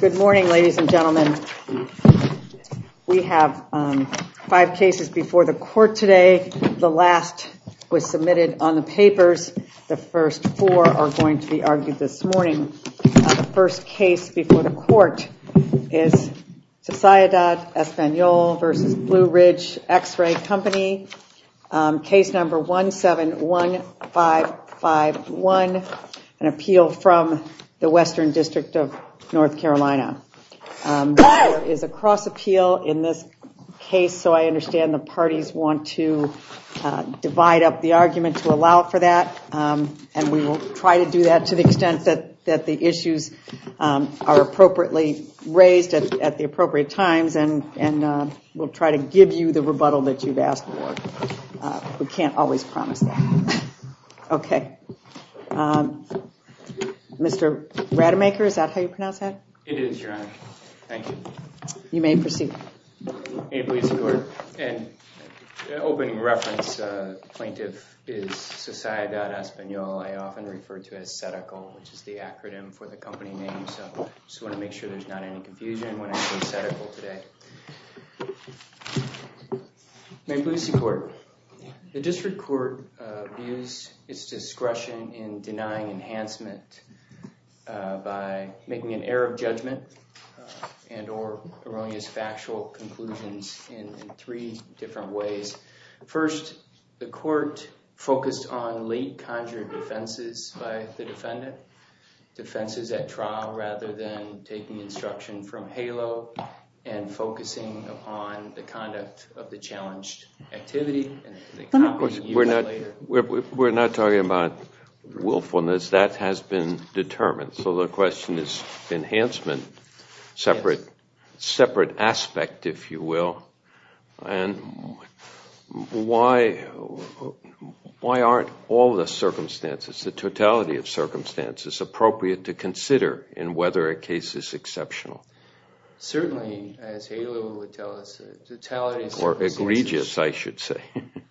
Good morning ladies and gentlemen. We have five cases before the court today. The last was submitted on the papers. The first four are going to be argued this morning. The first case before the court is Sociedad Espanola v. Blue Ridge X-Ray Company, case number 171551, an appeal from the Western District of North Carolina. There is a cross appeal in this case so I understand the parties want to divide up the argument to allow for that and we will try to do that to the extent that the issues are appropriately raised at the appropriate times and we'll try to give you the rebuttal that you've asked for. We can't always promise that. Okay. Mr. Rademacher, is that how you pronounce that? It is, Your Honor. Thank you. You may proceed. May it please the Court. An opening reference plaintiff is Sociedad Espanola. I often refer to it as SEDACL which is the acronym for the company name so I just want to make sure there's not any confusion when I say SEDACL today. May it please the Court. The district court views its discretion in denying enhancement by making an error of judgment and or erroneous factual conclusions in three different ways. First, the court focused on late conjured offenses by the defendant, defenses at trial rather than taking instruction from HALO and focusing upon the conduct of the challenged activity. We're not talking about willfulness. That has been determined so the question is enhancement, separate aspect if you will, and why aren't all the circumstances, the totality of circumstances appropriate to consider in whether a case is exceptional? Certainly, as HALO would tell us, the totality of circumstances are egregious, I should say.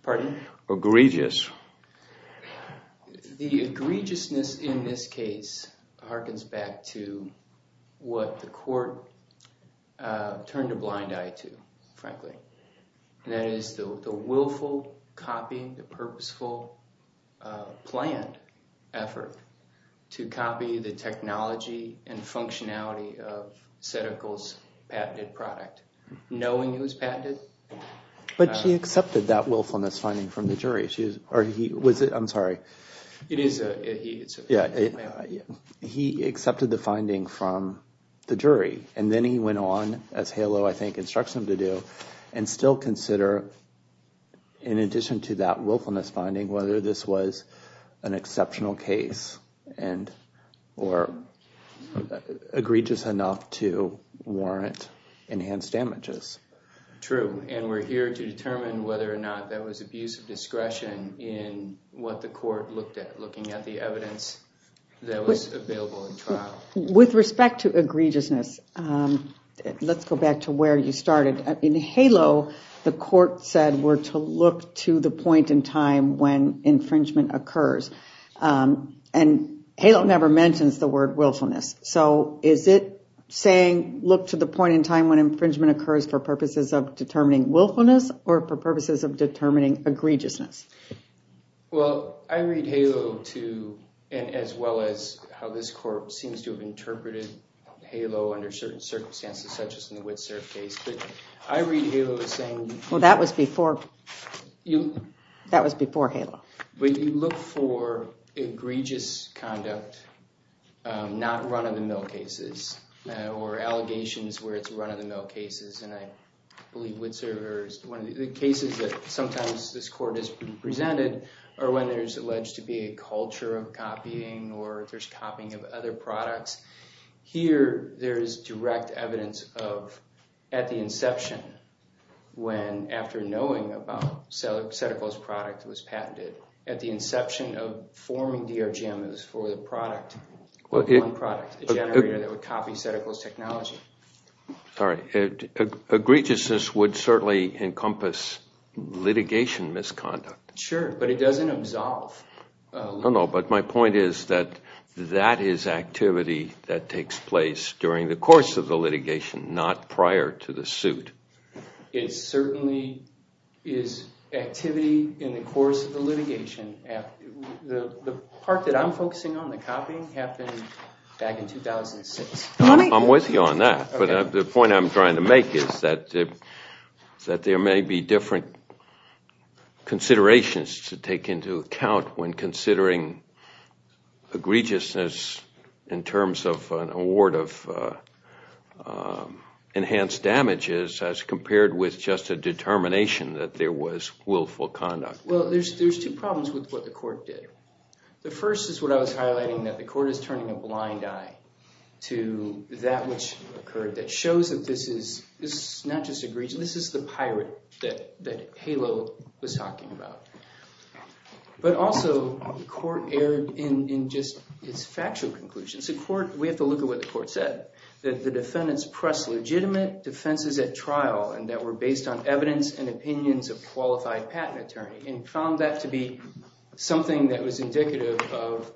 Pardon? Egregious. The egregiousness in this case harkens back to what the court turned a blind eye to, frankly. That is the willful copying, the purposeful planned effort to copy the technology and functionality of SEDACL's patented product. Knowing it was patented. But she accepted that willfulness finding from the jury. I'm sorry. He accepted the finding from the jury and then he went on as HALO, I think, instructs him to do and still consider in addition to that willfulness finding whether this was an exceptional case and or egregious enough to warrant enhanced damages. True. And we're here to determine whether or not that was abuse of discretion in what the court looked at, looking at the evidence that was available in trial. With respect to egregiousness, let's go back to where you started. In HALO, the court said we're to look to the point in time when infringement occurs. And HALO never mentions the word willfulness. So is it saying look to the point in time when infringement occurs for purposes of determining willfulness or for purposes of determining egregiousness? Well, I read HALO to and as well as how this court seems to have interpreted HALO under certain circumstances, such as in the Witsurf case. But I read HALO as saying Well, that was before. That was before HALO. But you look for egregious conduct, not run-of-the-mill cases or allegations where it's run-of-the-mill cases. And I believe Witsurf is one of the cases that sometimes this court has presented, or when there's alleged to be a culture of copying or there's copying of other products. Here, there is direct evidence of at the inception, when after knowing about Seticol's product was patented, at the inception of forming DRGMs for the product, the generator that would copy Seticol's technology. Sorry, egregiousness would certainly encompass litigation misconduct. Sure, but it doesn't absolve. No, no, but my point is that that is activity that takes place during the course of the litigation. The part that I'm focusing on, the copying, happened back in 2006. I'm with you on that, but the point I'm trying to make is that there may be different considerations to take into account when considering egregiousness in terms of an award of enhanced damages as compared with just a case where there was willful conduct. Well, there's two problems with what the court did. The first is what I was highlighting, that the court is turning a blind eye to that which occurred that shows that this is not just egregiousness, this is the pirate that HALO was talking about. But also, the court erred in just its factual conclusions. The court, we have to look at what the court said, that the defendants pressed legitimate defenses at a qualified patent attorney, and found that to be something that was indicative of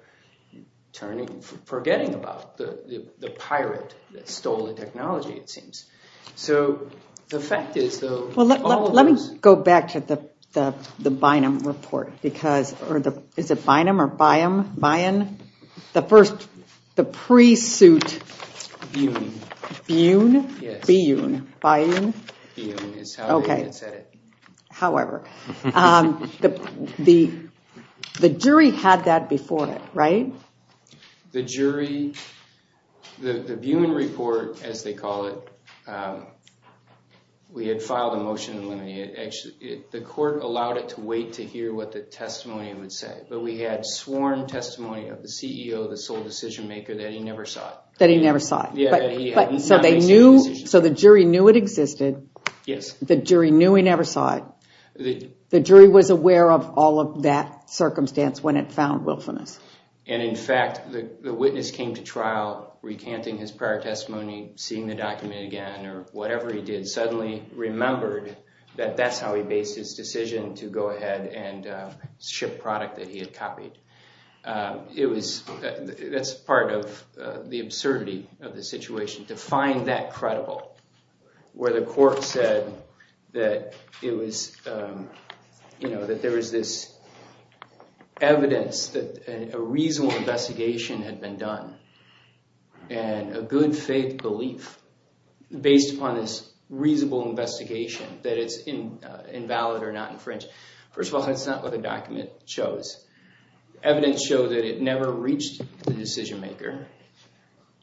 turning, forgetting about the pirate that stole the technology, it seems. So, the fact is, though, all of those... Well, let me go back to the Bynum report, because, or is it Bynum or By-um, By-un? The first, the pre-suit... Byun. Byun? Yes. Byun, By-un? By-un is how they had said it. However, the jury had that before it, right? The jury, the Byun report, as they call it, we had filed a motion eliminating it. The court allowed it to wait to hear what the testimony would say, but we had sworn testimony of the CEO, the sole decision maker, that he never saw it. So, the jury knew it existed, the jury knew he never saw it, the jury was aware of all of that circumstance when it found willfulness. And, in fact, the witness came to trial recanting his prior testimony, seeing the document again, or whatever he did, suddenly remembered that that's how he based his decision to go ahead and ship product that he had copied. It was, that's part of the absurdity of the situation, to find that credible, where the court said that it was, you know, that there was this evidence that a reasonable investigation had been done, and a good faith belief based upon this reasonable investigation, that it's invalid or not infringed. First of all, that's not what the document shows. Evidence showed that it never reached the decision maker,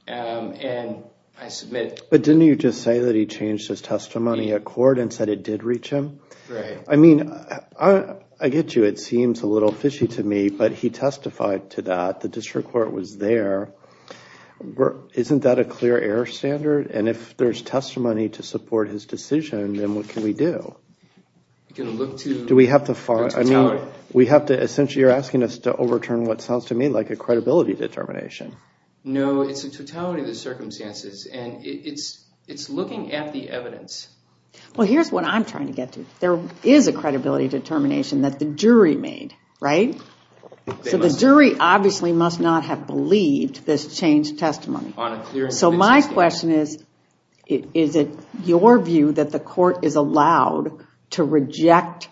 and I submit... But didn't you just say that he changed his testimony at court and said it did reach him? Right. I mean, I get you, it seems a little fishy to me, but he testified to that, the district court was there. Isn't that a clear error standard? And if there's testimony to support his decision, then what can we do? We can look to... Do we have to find, I mean, we have to essentially, you're asking us to overturn what sounds to me like a credibility determination. No, it's a totality of the circumstances, and it's looking at the evidence. Well, here's what I'm trying to get to. There is a credibility determination that the jury made, right? So the jury obviously must not have believed this changed testimony. So my question is, is it your view that the court is allowed to reject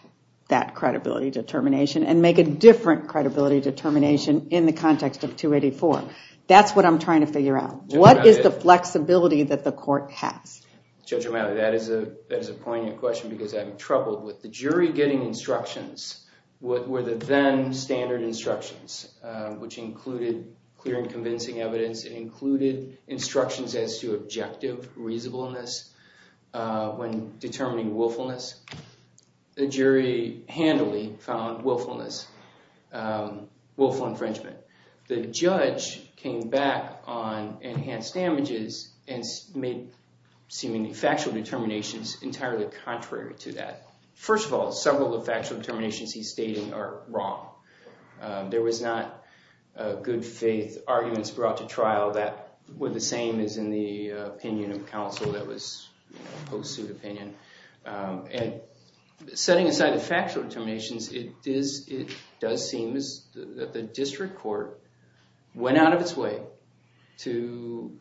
that credibility determination and make a different credibility determination in the context of 284? That's what I'm trying to figure out. What is the flexibility that the court has? Judge Romano, that is a poignant question because I'm troubled with the jury getting instructions where the then standard instructions, which included clear and convincing evidence, included instructions as to objective reasonableness when determining willfulness. The jury handily found willfulness, willful infringement. The judge came back on enhanced damages and made seemingly factual determinations entirely contrary to that. First of all, several of the factual determinations he's stating are wrong. There was not good faith arguments brought to trial that were the same as in the opinion of counsel that was post-suit opinion. And setting aside the factual determinations, it does seem that the district court went out of its way to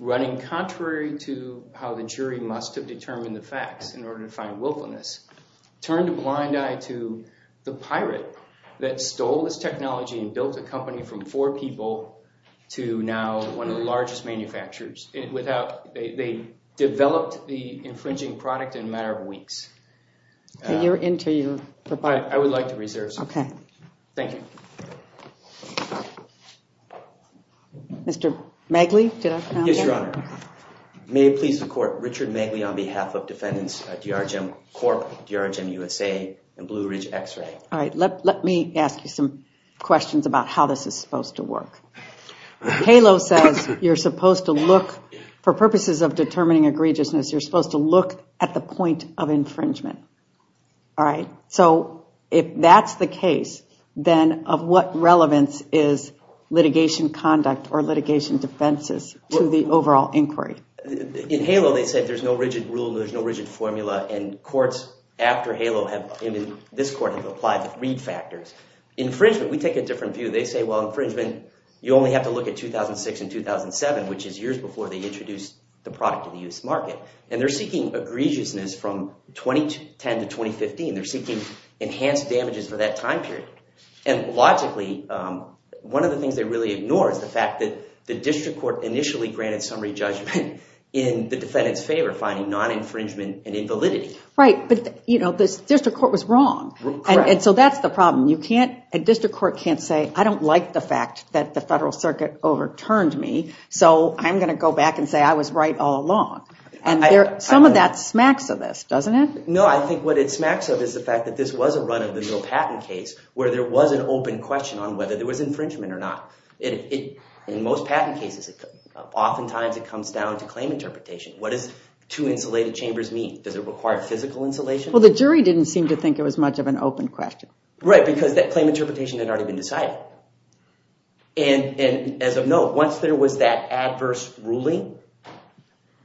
running contrary to how the jury must have determined the facts in order to find willfulness, turned a blind eye to the pirate that stole this technology and built a company from four people to now one of the largest manufacturers. They developed the infringing product in a matter of weeks. You're into your report. I would like to reserve some time. Thank you. Mr. Magley? Yes, Your Honor. May it please the court, Richard Magley on behalf of defendants at DRGEM Corp, DRGEM USA, and Blue Ridge X-Ray. All right, let me ask you some questions about how this is supposed to work. HALO says you're supposed to look, for purposes of determining egregiousness, you're supposed to look at the point of infringement. All right, so if that's the case, then of what relevance is litigation conduct or litigation defenses to the overall inquiry? In HALO, they said there's no rigid rule, there's no rigid formula, and courts after HALO have, in this court, have applied the read factors. Infringement, we take a different view. They say, well, infringement, you only have to look at 2006 and 2007, which is years before they introduced the product to the U.S. market. And they're seeking egregiousness from 2010 to 2015. They're seeking enhanced damages for that time period. And logically, one of the things they really ignore is the fact that the district court initially granted summary judgment in the defendant's favor, finding non-infringement an invalidity. Right, but the district court was wrong. Correct. And so that's the problem. A district court can't say, I don't like the fact that the Federal Circuit overturned me, so I'm going to go back and say I was right all along. And some of that smacks of this, doesn't it? No, I think what it smacks of is the fact that this was a run of the new patent case where there was an open question on whether there was infringement or not. In most patent cases, oftentimes it comes down to claim interpretation. What does two insulated chambers mean? Does it require physical insulation? Well, the jury didn't seem to think it was much of an open question. Right, because that claim interpretation had already been decided. And as of now, once there was that adverse ruling,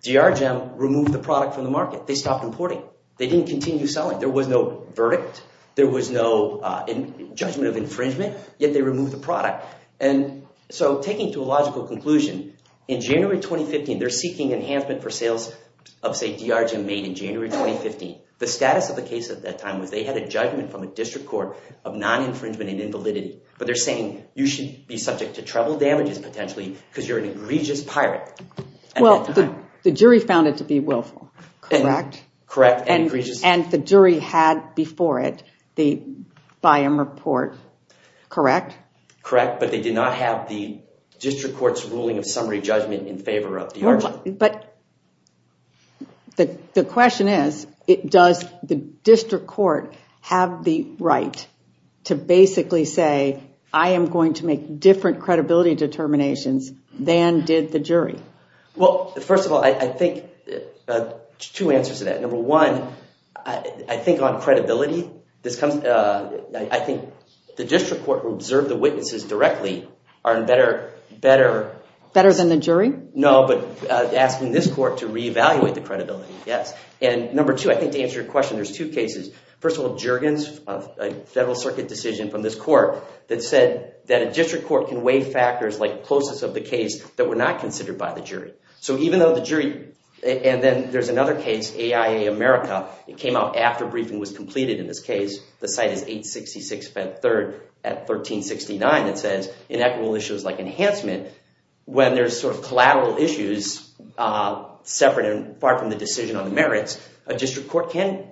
DRGEM removed the product from the market. They stopped importing. They didn't continue selling. There was no verdict. There was no judgment of infringement, yet they removed the product. And so taking to a logical conclusion, in January 2015, they're seeking enhancement for sales of, say, DRGEM made in January 2015. The status of the case at that time was they had a judgment from a district court of non-infringement and invalidity. But they're saying you should be subject to trouble damages potentially because you're an egregious pirate. Well, the jury found it to be willful, correct? Correct. And the jury had before it the Byam report, correct? Correct, but they did not have the district court's ruling of summary judgment in favor of DRGEM. But the question is, does the district court have the right to basically say, I am going to make different credibility determinations than did the jury? Well, first of all, I think two answers to that. Number one, I think on credibility, I think the district court will observe the witnesses directly are in better... Better than the jury? No, but asking this court to reevaluate the credibility, yes. And number two, I think to answer your question, there's two cases. First of all, Juergens, a federal circuit decision from this court that said that a district court can weigh factors like closest of the case that were not considered by the jury. So even though the jury... And then there's another case, AIA America. It came out after briefing was completed in this case. The site is 866 3rd at 1369. It says inequitable issues like enhancement. When there's sort of collateral issues separate and far from the decision on the merits, a district court can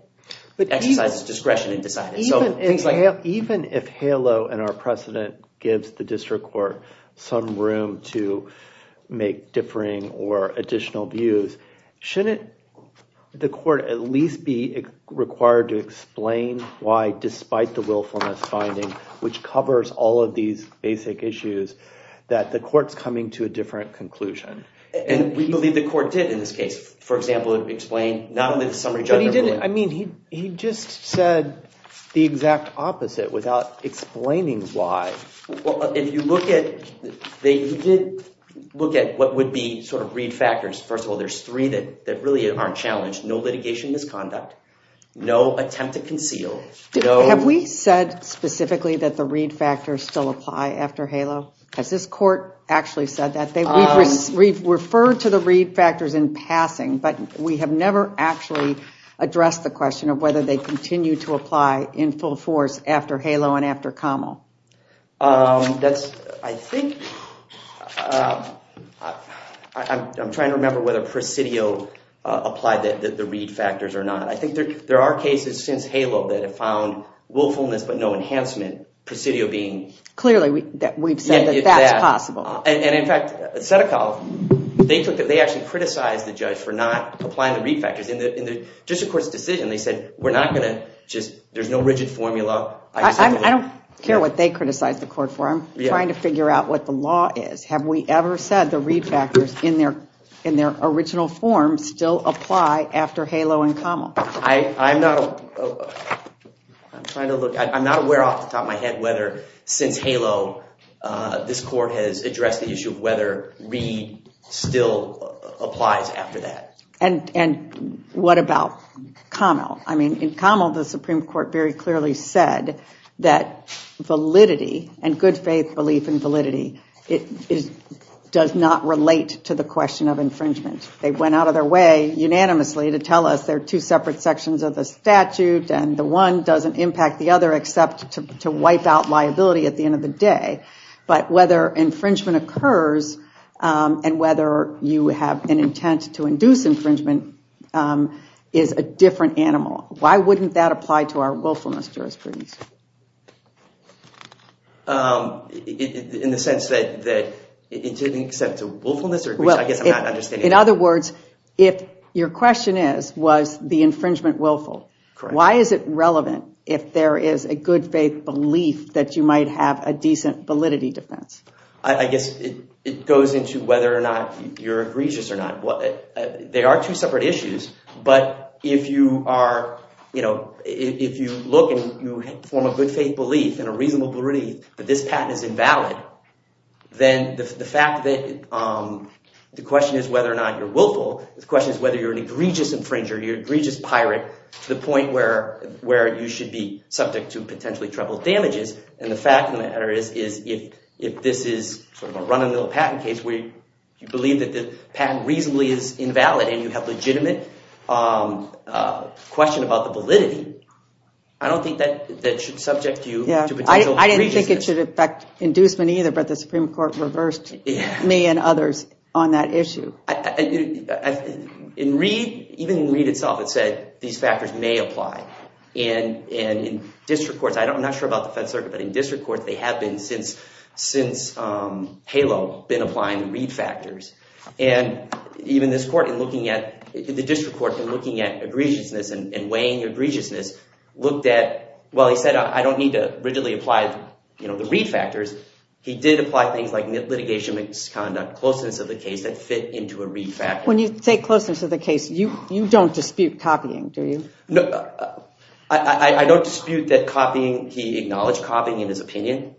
exercise its discretion and decide. Even if HALO and our precedent gives the district court some room to make differing or additional views, shouldn't the court at least be required to explain why, despite the willfulness finding, which covers all of these basic issues, that the court's coming to a different conclusion? And we believe the court did in this case. For example, it would explain not only the summary judgment... But he didn't. I mean, he just said the exact opposite without explaining why. If you look at... He did look at what would be sort of read factors. First of all, there's three that really aren't challenged. No litigation misconduct. No attempt to conceal. Have we said specifically that the read factors still apply after HALO? Has this court actually said that? We've referred to the read factors in passing, but we have never actually addressed the question of whether they continue to apply in full force after HALO and after COML. I'm trying to remember whether presidio applied the read factors or not. I think there are cases since HALO that have found willfulness but no enhancement, presidio being... Clearly, we've said that that's possible. And in fact, Setekov, they actually criticized the judge for not applying the read factors. In the district court's decision, they said, we're not going to just... There's no rigid formula. I don't care what they criticize the court for. I'm trying to figure out what the law is. Have we ever said the read factors in their original form still apply after HALO and COML? I'm not aware off the top of my head whether since HALO, this court has addressed the issue of whether read still applies after that. And what about COML? I mean, in COML, the Supreme Court very clearly said that validity and good faith belief in validity does not relate to the question of infringement. They went out of their way unanimously to tell us there are two separate sections of the statute, and the one doesn't impact the other except to wipe out liability at the end of the day. But whether infringement occurs and whether you have an intent to induce infringement is a different animal. Why wouldn't that apply to our willfulness jurisprudence? In the sense that it didn't extend to willfulness? In other words, if your question is, was the infringement willful, why is it relevant if there is a good faith belief that you might have a decent validity defense? I guess it goes into whether or not you're egregious or not. They are two separate issues, but if you look and you form a good faith belief and a reasonable belief that this patent is invalid, then the question is whether or not you're willful. The question is whether you're an egregious infringer, you're an egregious pirate, to the point where you should be subject to potentially troubled damages. And the fact of the matter is, if this is a run-of-the-mill patent case where you believe that the patent reasonably is invalid and you have a legitimate question about the validity, I don't think that should subject you to potential egregiousness. I don't think it should affect inducement either, but the Supreme Court reversed me and others on that issue. In Reed, even in Reed itself, it said these factors may apply. And in district courts, I'm not sure about the Fed Circuit, but in district courts they have been since HALO, been applying the Reed factors. And even this court in looking at, the district court in looking at egregiousness and weighing egregiousness, looked at, well, he said, I don't need to rigidly apply the Reed factors. He did apply things like litigation misconduct, closeness of the case that fit into a Reed factor. When you say closeness of the case, you don't dispute copying, do you? I don't dispute that copying, he acknowledged copying in his opinion.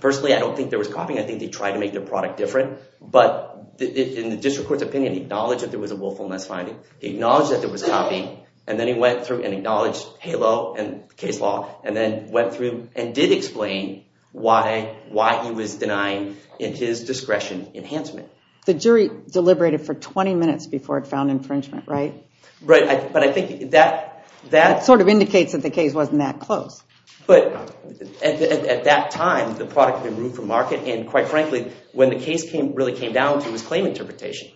Personally, I don't think there was copying. I think they tried to make their product different. But in the district court's opinion, he acknowledged that there was a willfulness finding. He acknowledged that there was copying, and then he went through and acknowledged HALO and case law, and then went through and did explain why he was denying, in his discretion, enhancement. The jury deliberated for 20 minutes before it found infringement, right? Right, but I think that... That sort of indicates that the case wasn't that close. But at that time, the product had been ruled for market, and quite frankly, when the case really came down to, it was claim interpretation.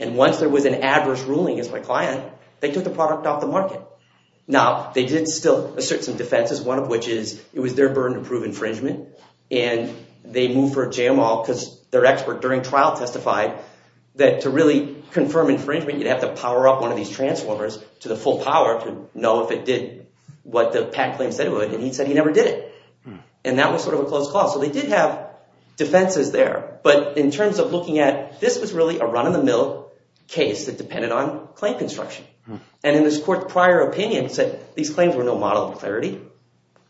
And once there was an adverse ruling as my client, they took the product off the market. Now, they did still assert some defenses, one of which is it was their burden to prove infringement. And they moved for a JML, because their expert during trial testified that to really confirm infringement, you'd have to power up one of these transformers to the full power to know if it did what the PAC claims said it would. And he said he never did it. And that was sort of a close call. So they did have defenses there. But in terms of looking at, this was really a run-of-the-mill case that depended on claim construction. And in this court's prior opinion said these claims were no model of clarity.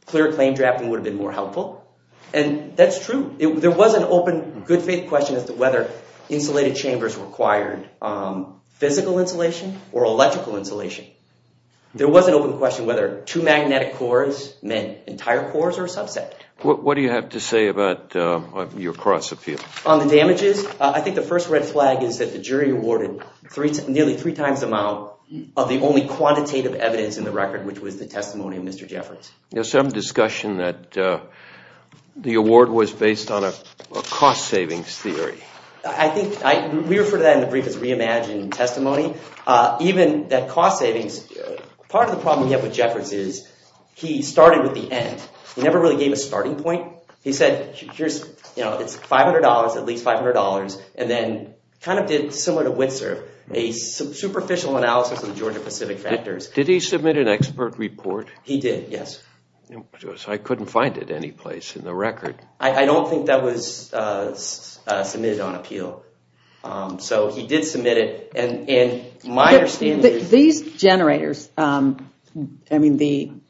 Clear claim drafting would have been more helpful. And that's true. There was an open, good-faith question as to whether insulated chambers required physical insulation or electrical insulation. There was an open question whether two magnetic cores meant entire cores or a subset. What do you have to say about your cross-appeal? On the damages, I think the first red flag is that the jury awarded nearly three times the amount of the only quantitative evidence in the record, which was the testimony of Mr. Jeffords. There was some discussion that the award was based on a cost-savings theory. I think we refer to that in the brief as reimagined testimony. Even that cost savings, part of the problem we have with Jeffords is he started with the end. He never really gave a starting point. He said, here's, you know, it's $500, at least $500, and then kind of did, similar to Witser, a superficial analysis of the Georgia-Pacific factors. Did he submit an expert report? He did, yes. I couldn't find it anyplace in the record. I don't think that was submitted on appeal. So he did submit it, and my understanding is... These generators, I mean,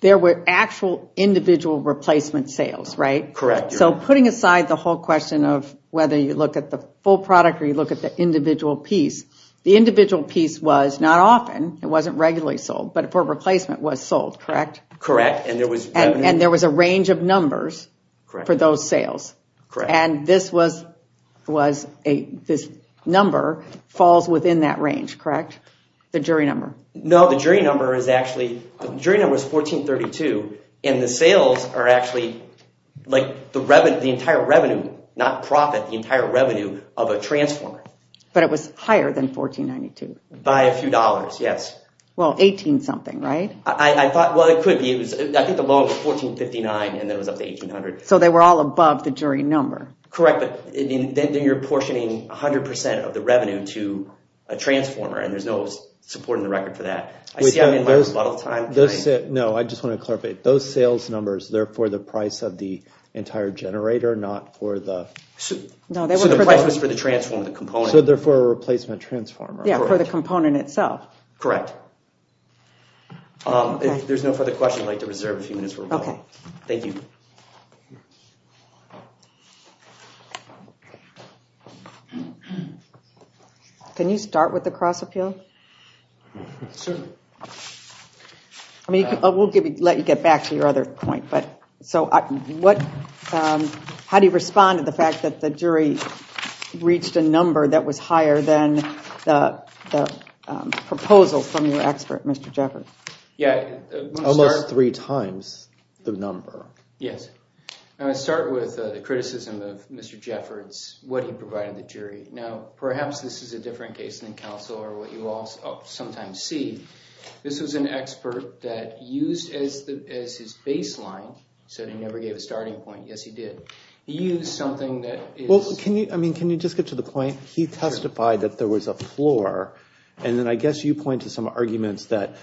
there were actual individual replacement sales, right? Correct. So putting aside the whole question of whether you look at the full product or you look at the individual piece, the individual piece was not often, it wasn't regularly sold, but for replacement was sold, correct? Correct, and there was... And there was a range of numbers for those sales. Correct. And this was... This number falls within that range, correct? The jury number. No, the jury number is actually... The jury number is 1432, and the sales are actually, like, the entire revenue, not profit, the entire revenue of a transformer. But it was higher than 1492. By a few dollars, yes. Well, 18-something, right? I thought, well, it could be. I think the low was 1459, and then it was up to 1800. So they were all above the jury number. Correct, but then you're portioning 100% of the revenue to a transformer, and there's no support in the record for that. I see I'm in my rebuttal time. No, I just want to clarify. Those sales numbers, they're for the price of the entire generator, not for the... So the price was for the transformer, the component. So they're for a replacement transformer. Yeah, for the component itself. Correct. If there's no further questions, I'd like to reserve a few minutes for rebuttal. Okay. Thank you. Can you start with the cross-appeal? Sure. I mean, we'll let you get back to your other point. So how do you respond to the fact that the jury reached a number that was higher than the proposal from your expert, Mr. Jeffers? Almost three times the number. Yes. I'm going to start with the criticism of Mr. Jeffers, what he provided the jury. Now, perhaps this is a different case than counsel or what you all sometimes see. This was an expert that used as his baseline, said he never gave a starting point. Yes, he did. He used something that is... Well, can you just get to the point? He testified that there was a floor, and then I guess you point to some arguments that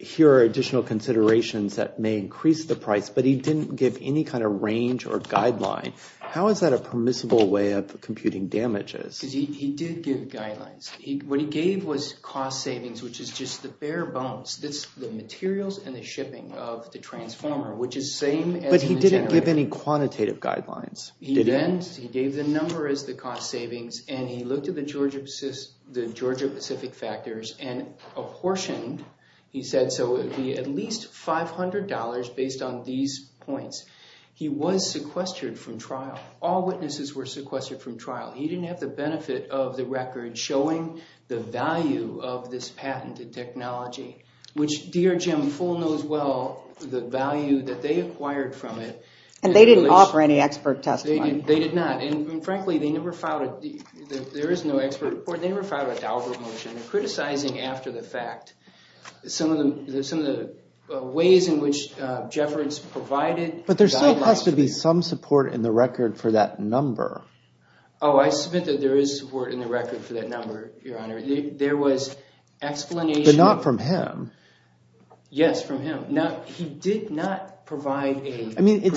here are additional considerations that may increase the price, but he didn't give any kind of range or guideline. How is that a permissible way of computing damages? Because he did give guidelines. What he gave was cost savings, which is just the bare bones, the materials and the shipping of the transformer, which is same as the generator. But he didn't give any quantitative guidelines, did he? He didn't. He gave the number as the cost savings, and he looked at the Georgia Pacific factors and apportioned, he said, so it would be at least $500 based on these points. He was sequestered from trial. All witnesses were sequestered from trial. He didn't have the benefit of the record showing the value of this patented technology, which dear Jim Full knows well the value that they acquired from it. And they didn't offer any expert testimony. They did not. And frankly, they never filed it. There is no expert report. They never filed a dower motion. They're criticizing after the fact some of the ways in which Jeffords provided guidelines. But there still has to be some support in the record for that number. Oh, I submit that there is support in the record for that number, Your Honor. There was explanation. But not from him. Yes, from him. He did not provide a percentage royalty. I mean, it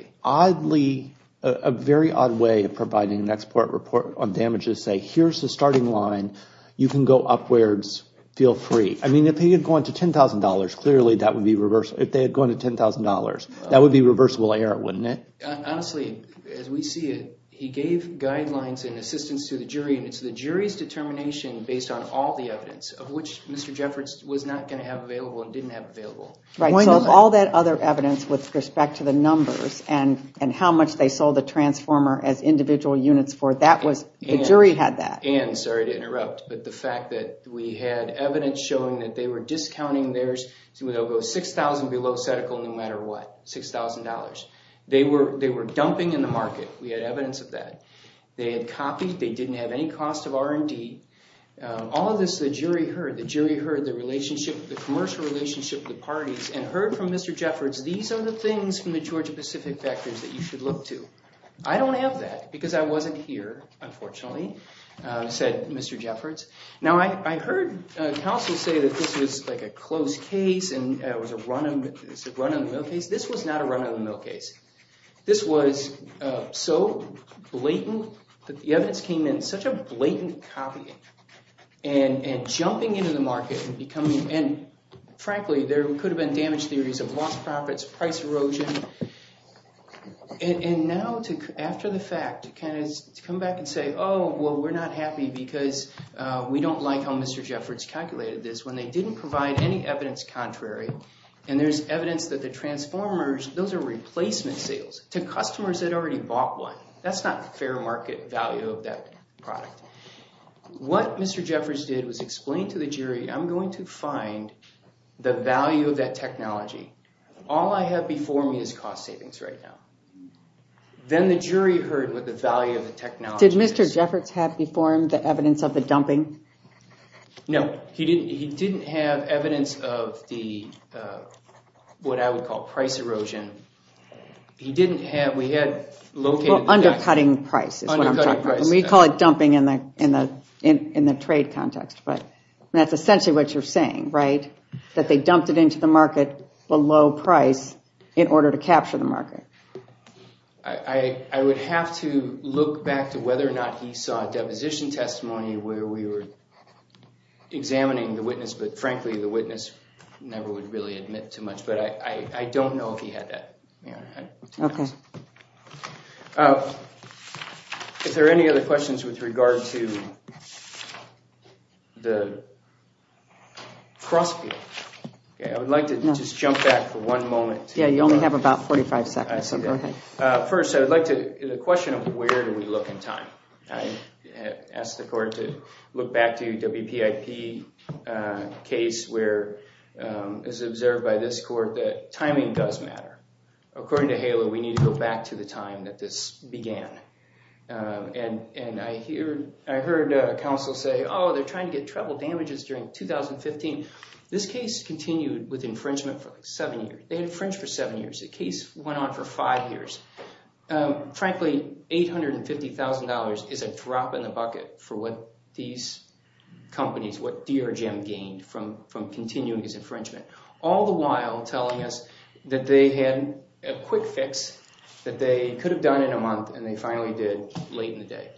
seems oddly, a very odd way of providing an expert report on damages say here's the starting line. You can go upwards. Feel free. I mean, if he had gone to $10,000, clearly that would be reverse. If they had gone to $10,000, that would be reversible error, wouldn't it? Honestly, as we see it, he gave guidelines and assistance to the jury. It's the jury's determination based on all the evidence of which Mr. Jeffords was not going to have available and didn't have available. Right. So all that other evidence with respect to the numbers and how much they sold the transformer as individual units for, that was, the jury had that. And, sorry to interrupt, but the fact that we had evidence showing that they were discounting theirs to go $6,000 below setticle no matter what. $6,000. They were dumping in the market. We had evidence of that. They had copied. They didn't have any cost of R&D. All of this, the jury heard. The jury heard the relationship, the commercial relationship with the parties and heard from Mr. Jeffords, these are the things from the Georgia-Pacific factors that you should look to. I don't have that because I wasn't here, unfortunately, said Mr. Jeffords. Now, I heard counsel say that this was like a closed case and it was a run-on-the-mill case. This was not a run-on-the-mill case. This was so blatant that the evidence came in such a blatant copy and jumping into the market and becoming, and frankly, there could have been damage theories of lost profits, price erosion. Now, after the fact, to come back and say, oh, well, we're not happy because we don't like how Mr. Jeffords calculated this when they didn't provide any evidence contrary. There's evidence that the Transformers, those are replacement sales to customers that already bought one. That's not fair market value of that product. What Mr. Jeffords did was explain to the jury, I'm going to find the value of that technology. All I have before me is cost savings right now. Then the jury heard what the value of the technology is. Did Mr. Jeffords have before him the evidence of the dumping? No, he didn't have evidence of the, what I would call price erosion. He didn't have, we had located that. Undercutting price is what I'm talking about. We call it dumping in the trade context, but that's essentially what you're saying, right? That they dumped it into the market below price in order to capture the market. I would have to look back to whether or not he saw a deposition testimony where we were examining the witness. But frankly, the witness never would really admit too much. But I don't know if he had that. Okay. Is there any other questions with regard to the cross field? I would like to just jump back for one moment. Yeah, you only have about 45 seconds, so go ahead. First, I would like to, the question of where do we look in time? I asked the court to look back to WPIP case where it was observed by this court that timing does matter. According to HALO, we need to go back to the time that this began. And I heard counsel say, oh, they're trying to get treble damages during 2015. This case continued with infringement for seven years. They had infringed for seven years. The case went on for five years. Frankly, $850,000 is a drop in the bucket for what these companies, what DRGEM gained from continuing this infringement. All the while telling us that they had a quick fix that they could have done in a month, and they finally did late in the day.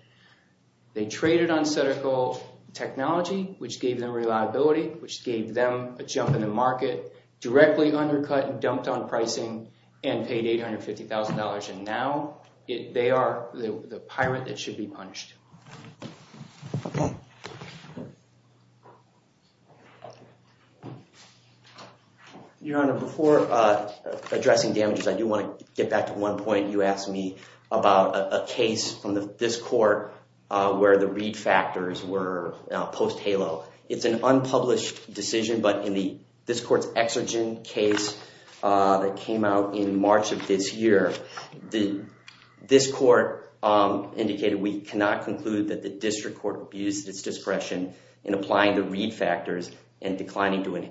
They traded on Sutterco technology, which gave them reliability, which gave them a jump in the market, directly undercut and dumped on pricing, and paid $850,000. And now they are the pirate that should be punished. Your Honor, before addressing damages, I do want to get back to one point you asked me about a case from this court where the read factors were post-HALO. It's an unpublished decision, but in this court's exergence case that came out in March of this year, this court indicated we cannot conclude that the district court abused its discretion in applying the read factors and declining to award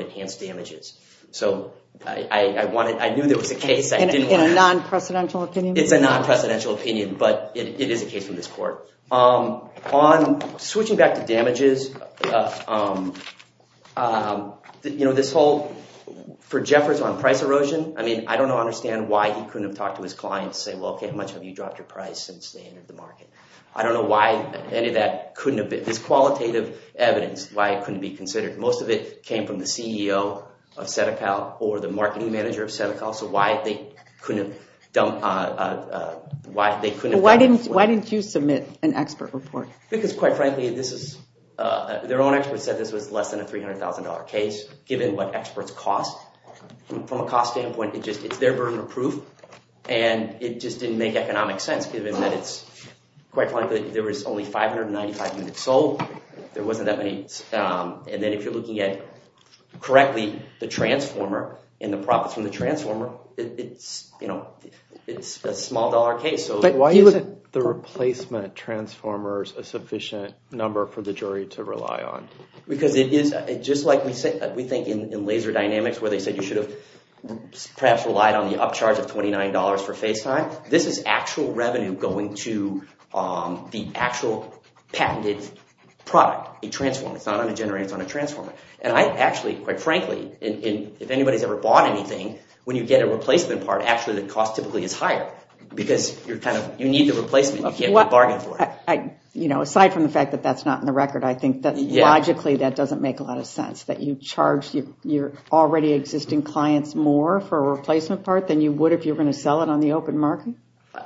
enhanced damages. So I knew there was a case. In a non-presidential opinion? It's a non-presidential opinion, but it is a case from this court. Switching back to damages, for Jeffers on price erosion, I don't understand why he couldn't have talked to his clients and said, well, okay, how much have you dropped your price since they entered the market? I don't know why any of that couldn't have been – this qualitative evidence, why it couldn't be considered. Most of it came from the CEO of Sutterco or the marketing manager of Sutterco, so why they couldn't have dumped – Why didn't you submit an expert report? Because, quite frankly, this is – their own experts said this was less than a $300,000 case given what experts cost. From a cost standpoint, it's their burden of proof, and it just didn't make economic sense given that it's – quite frankly, there was only 595 units sold. There wasn't that many – and then if you're looking at, correctly, the transformer and the profits from the transformer, it's a small-dollar case. But why isn't the replacement transformers a sufficient number for the jury to rely on? Because it is – just like we think in laser dynamics where they said you should have perhaps relied on the upcharge of $29 for FaceTime, this is actual revenue going to the actual patented product, a transformer. It's not on a generator. It's on a transformer. And I actually, quite frankly, if anybody's ever bought anything, when you get a replacement part, actually the cost typically is higher because you're kind of – you need the replacement. You can't get a bargain for it. Aside from the fact that that's not in the record, I think that logically that doesn't make a lot of sense, that you charge your already existing clients more for a replacement part than you would if you were going to sell it on the open market?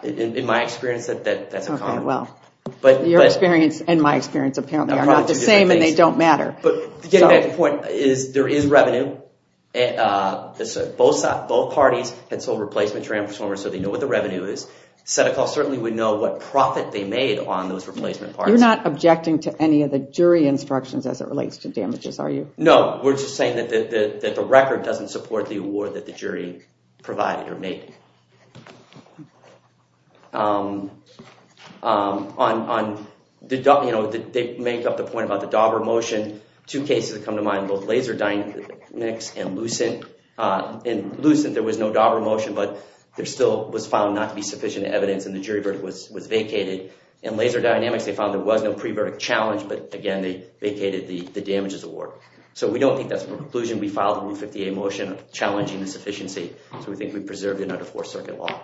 In my experience, that's a con. Okay, well, your experience and my experience apparently are not the same, and they don't matter. But to get back to the point, there is revenue. Both parties had sold replacement transformers, so they know what the revenue is. Set-A-Call certainly would know what profit they made on those replacement parts. You're not objecting to any of the jury instructions as it relates to damages, are you? No, we're just saying that the record doesn't support the award that the jury provided or made. They make up the point about the Dauber motion. Two cases have come to mind, both Laser Dynamics and Lucent. In Lucent, there was no Dauber motion, but it still was found not to be sufficient evidence, and the jury verdict was vacated. In Laser Dynamics, they found there was no pre-verdict challenge, but again, they vacated the damages award. So we don't think that's a preclusion. We filed the Rule 58 motion challenging the sufficiency. So we think we preserved it under Fourth Circuit law.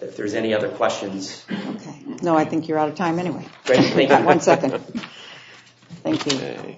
If there's any other questions... Okay. No, I think you're out of time anyway. One second. Thank you. Jesus.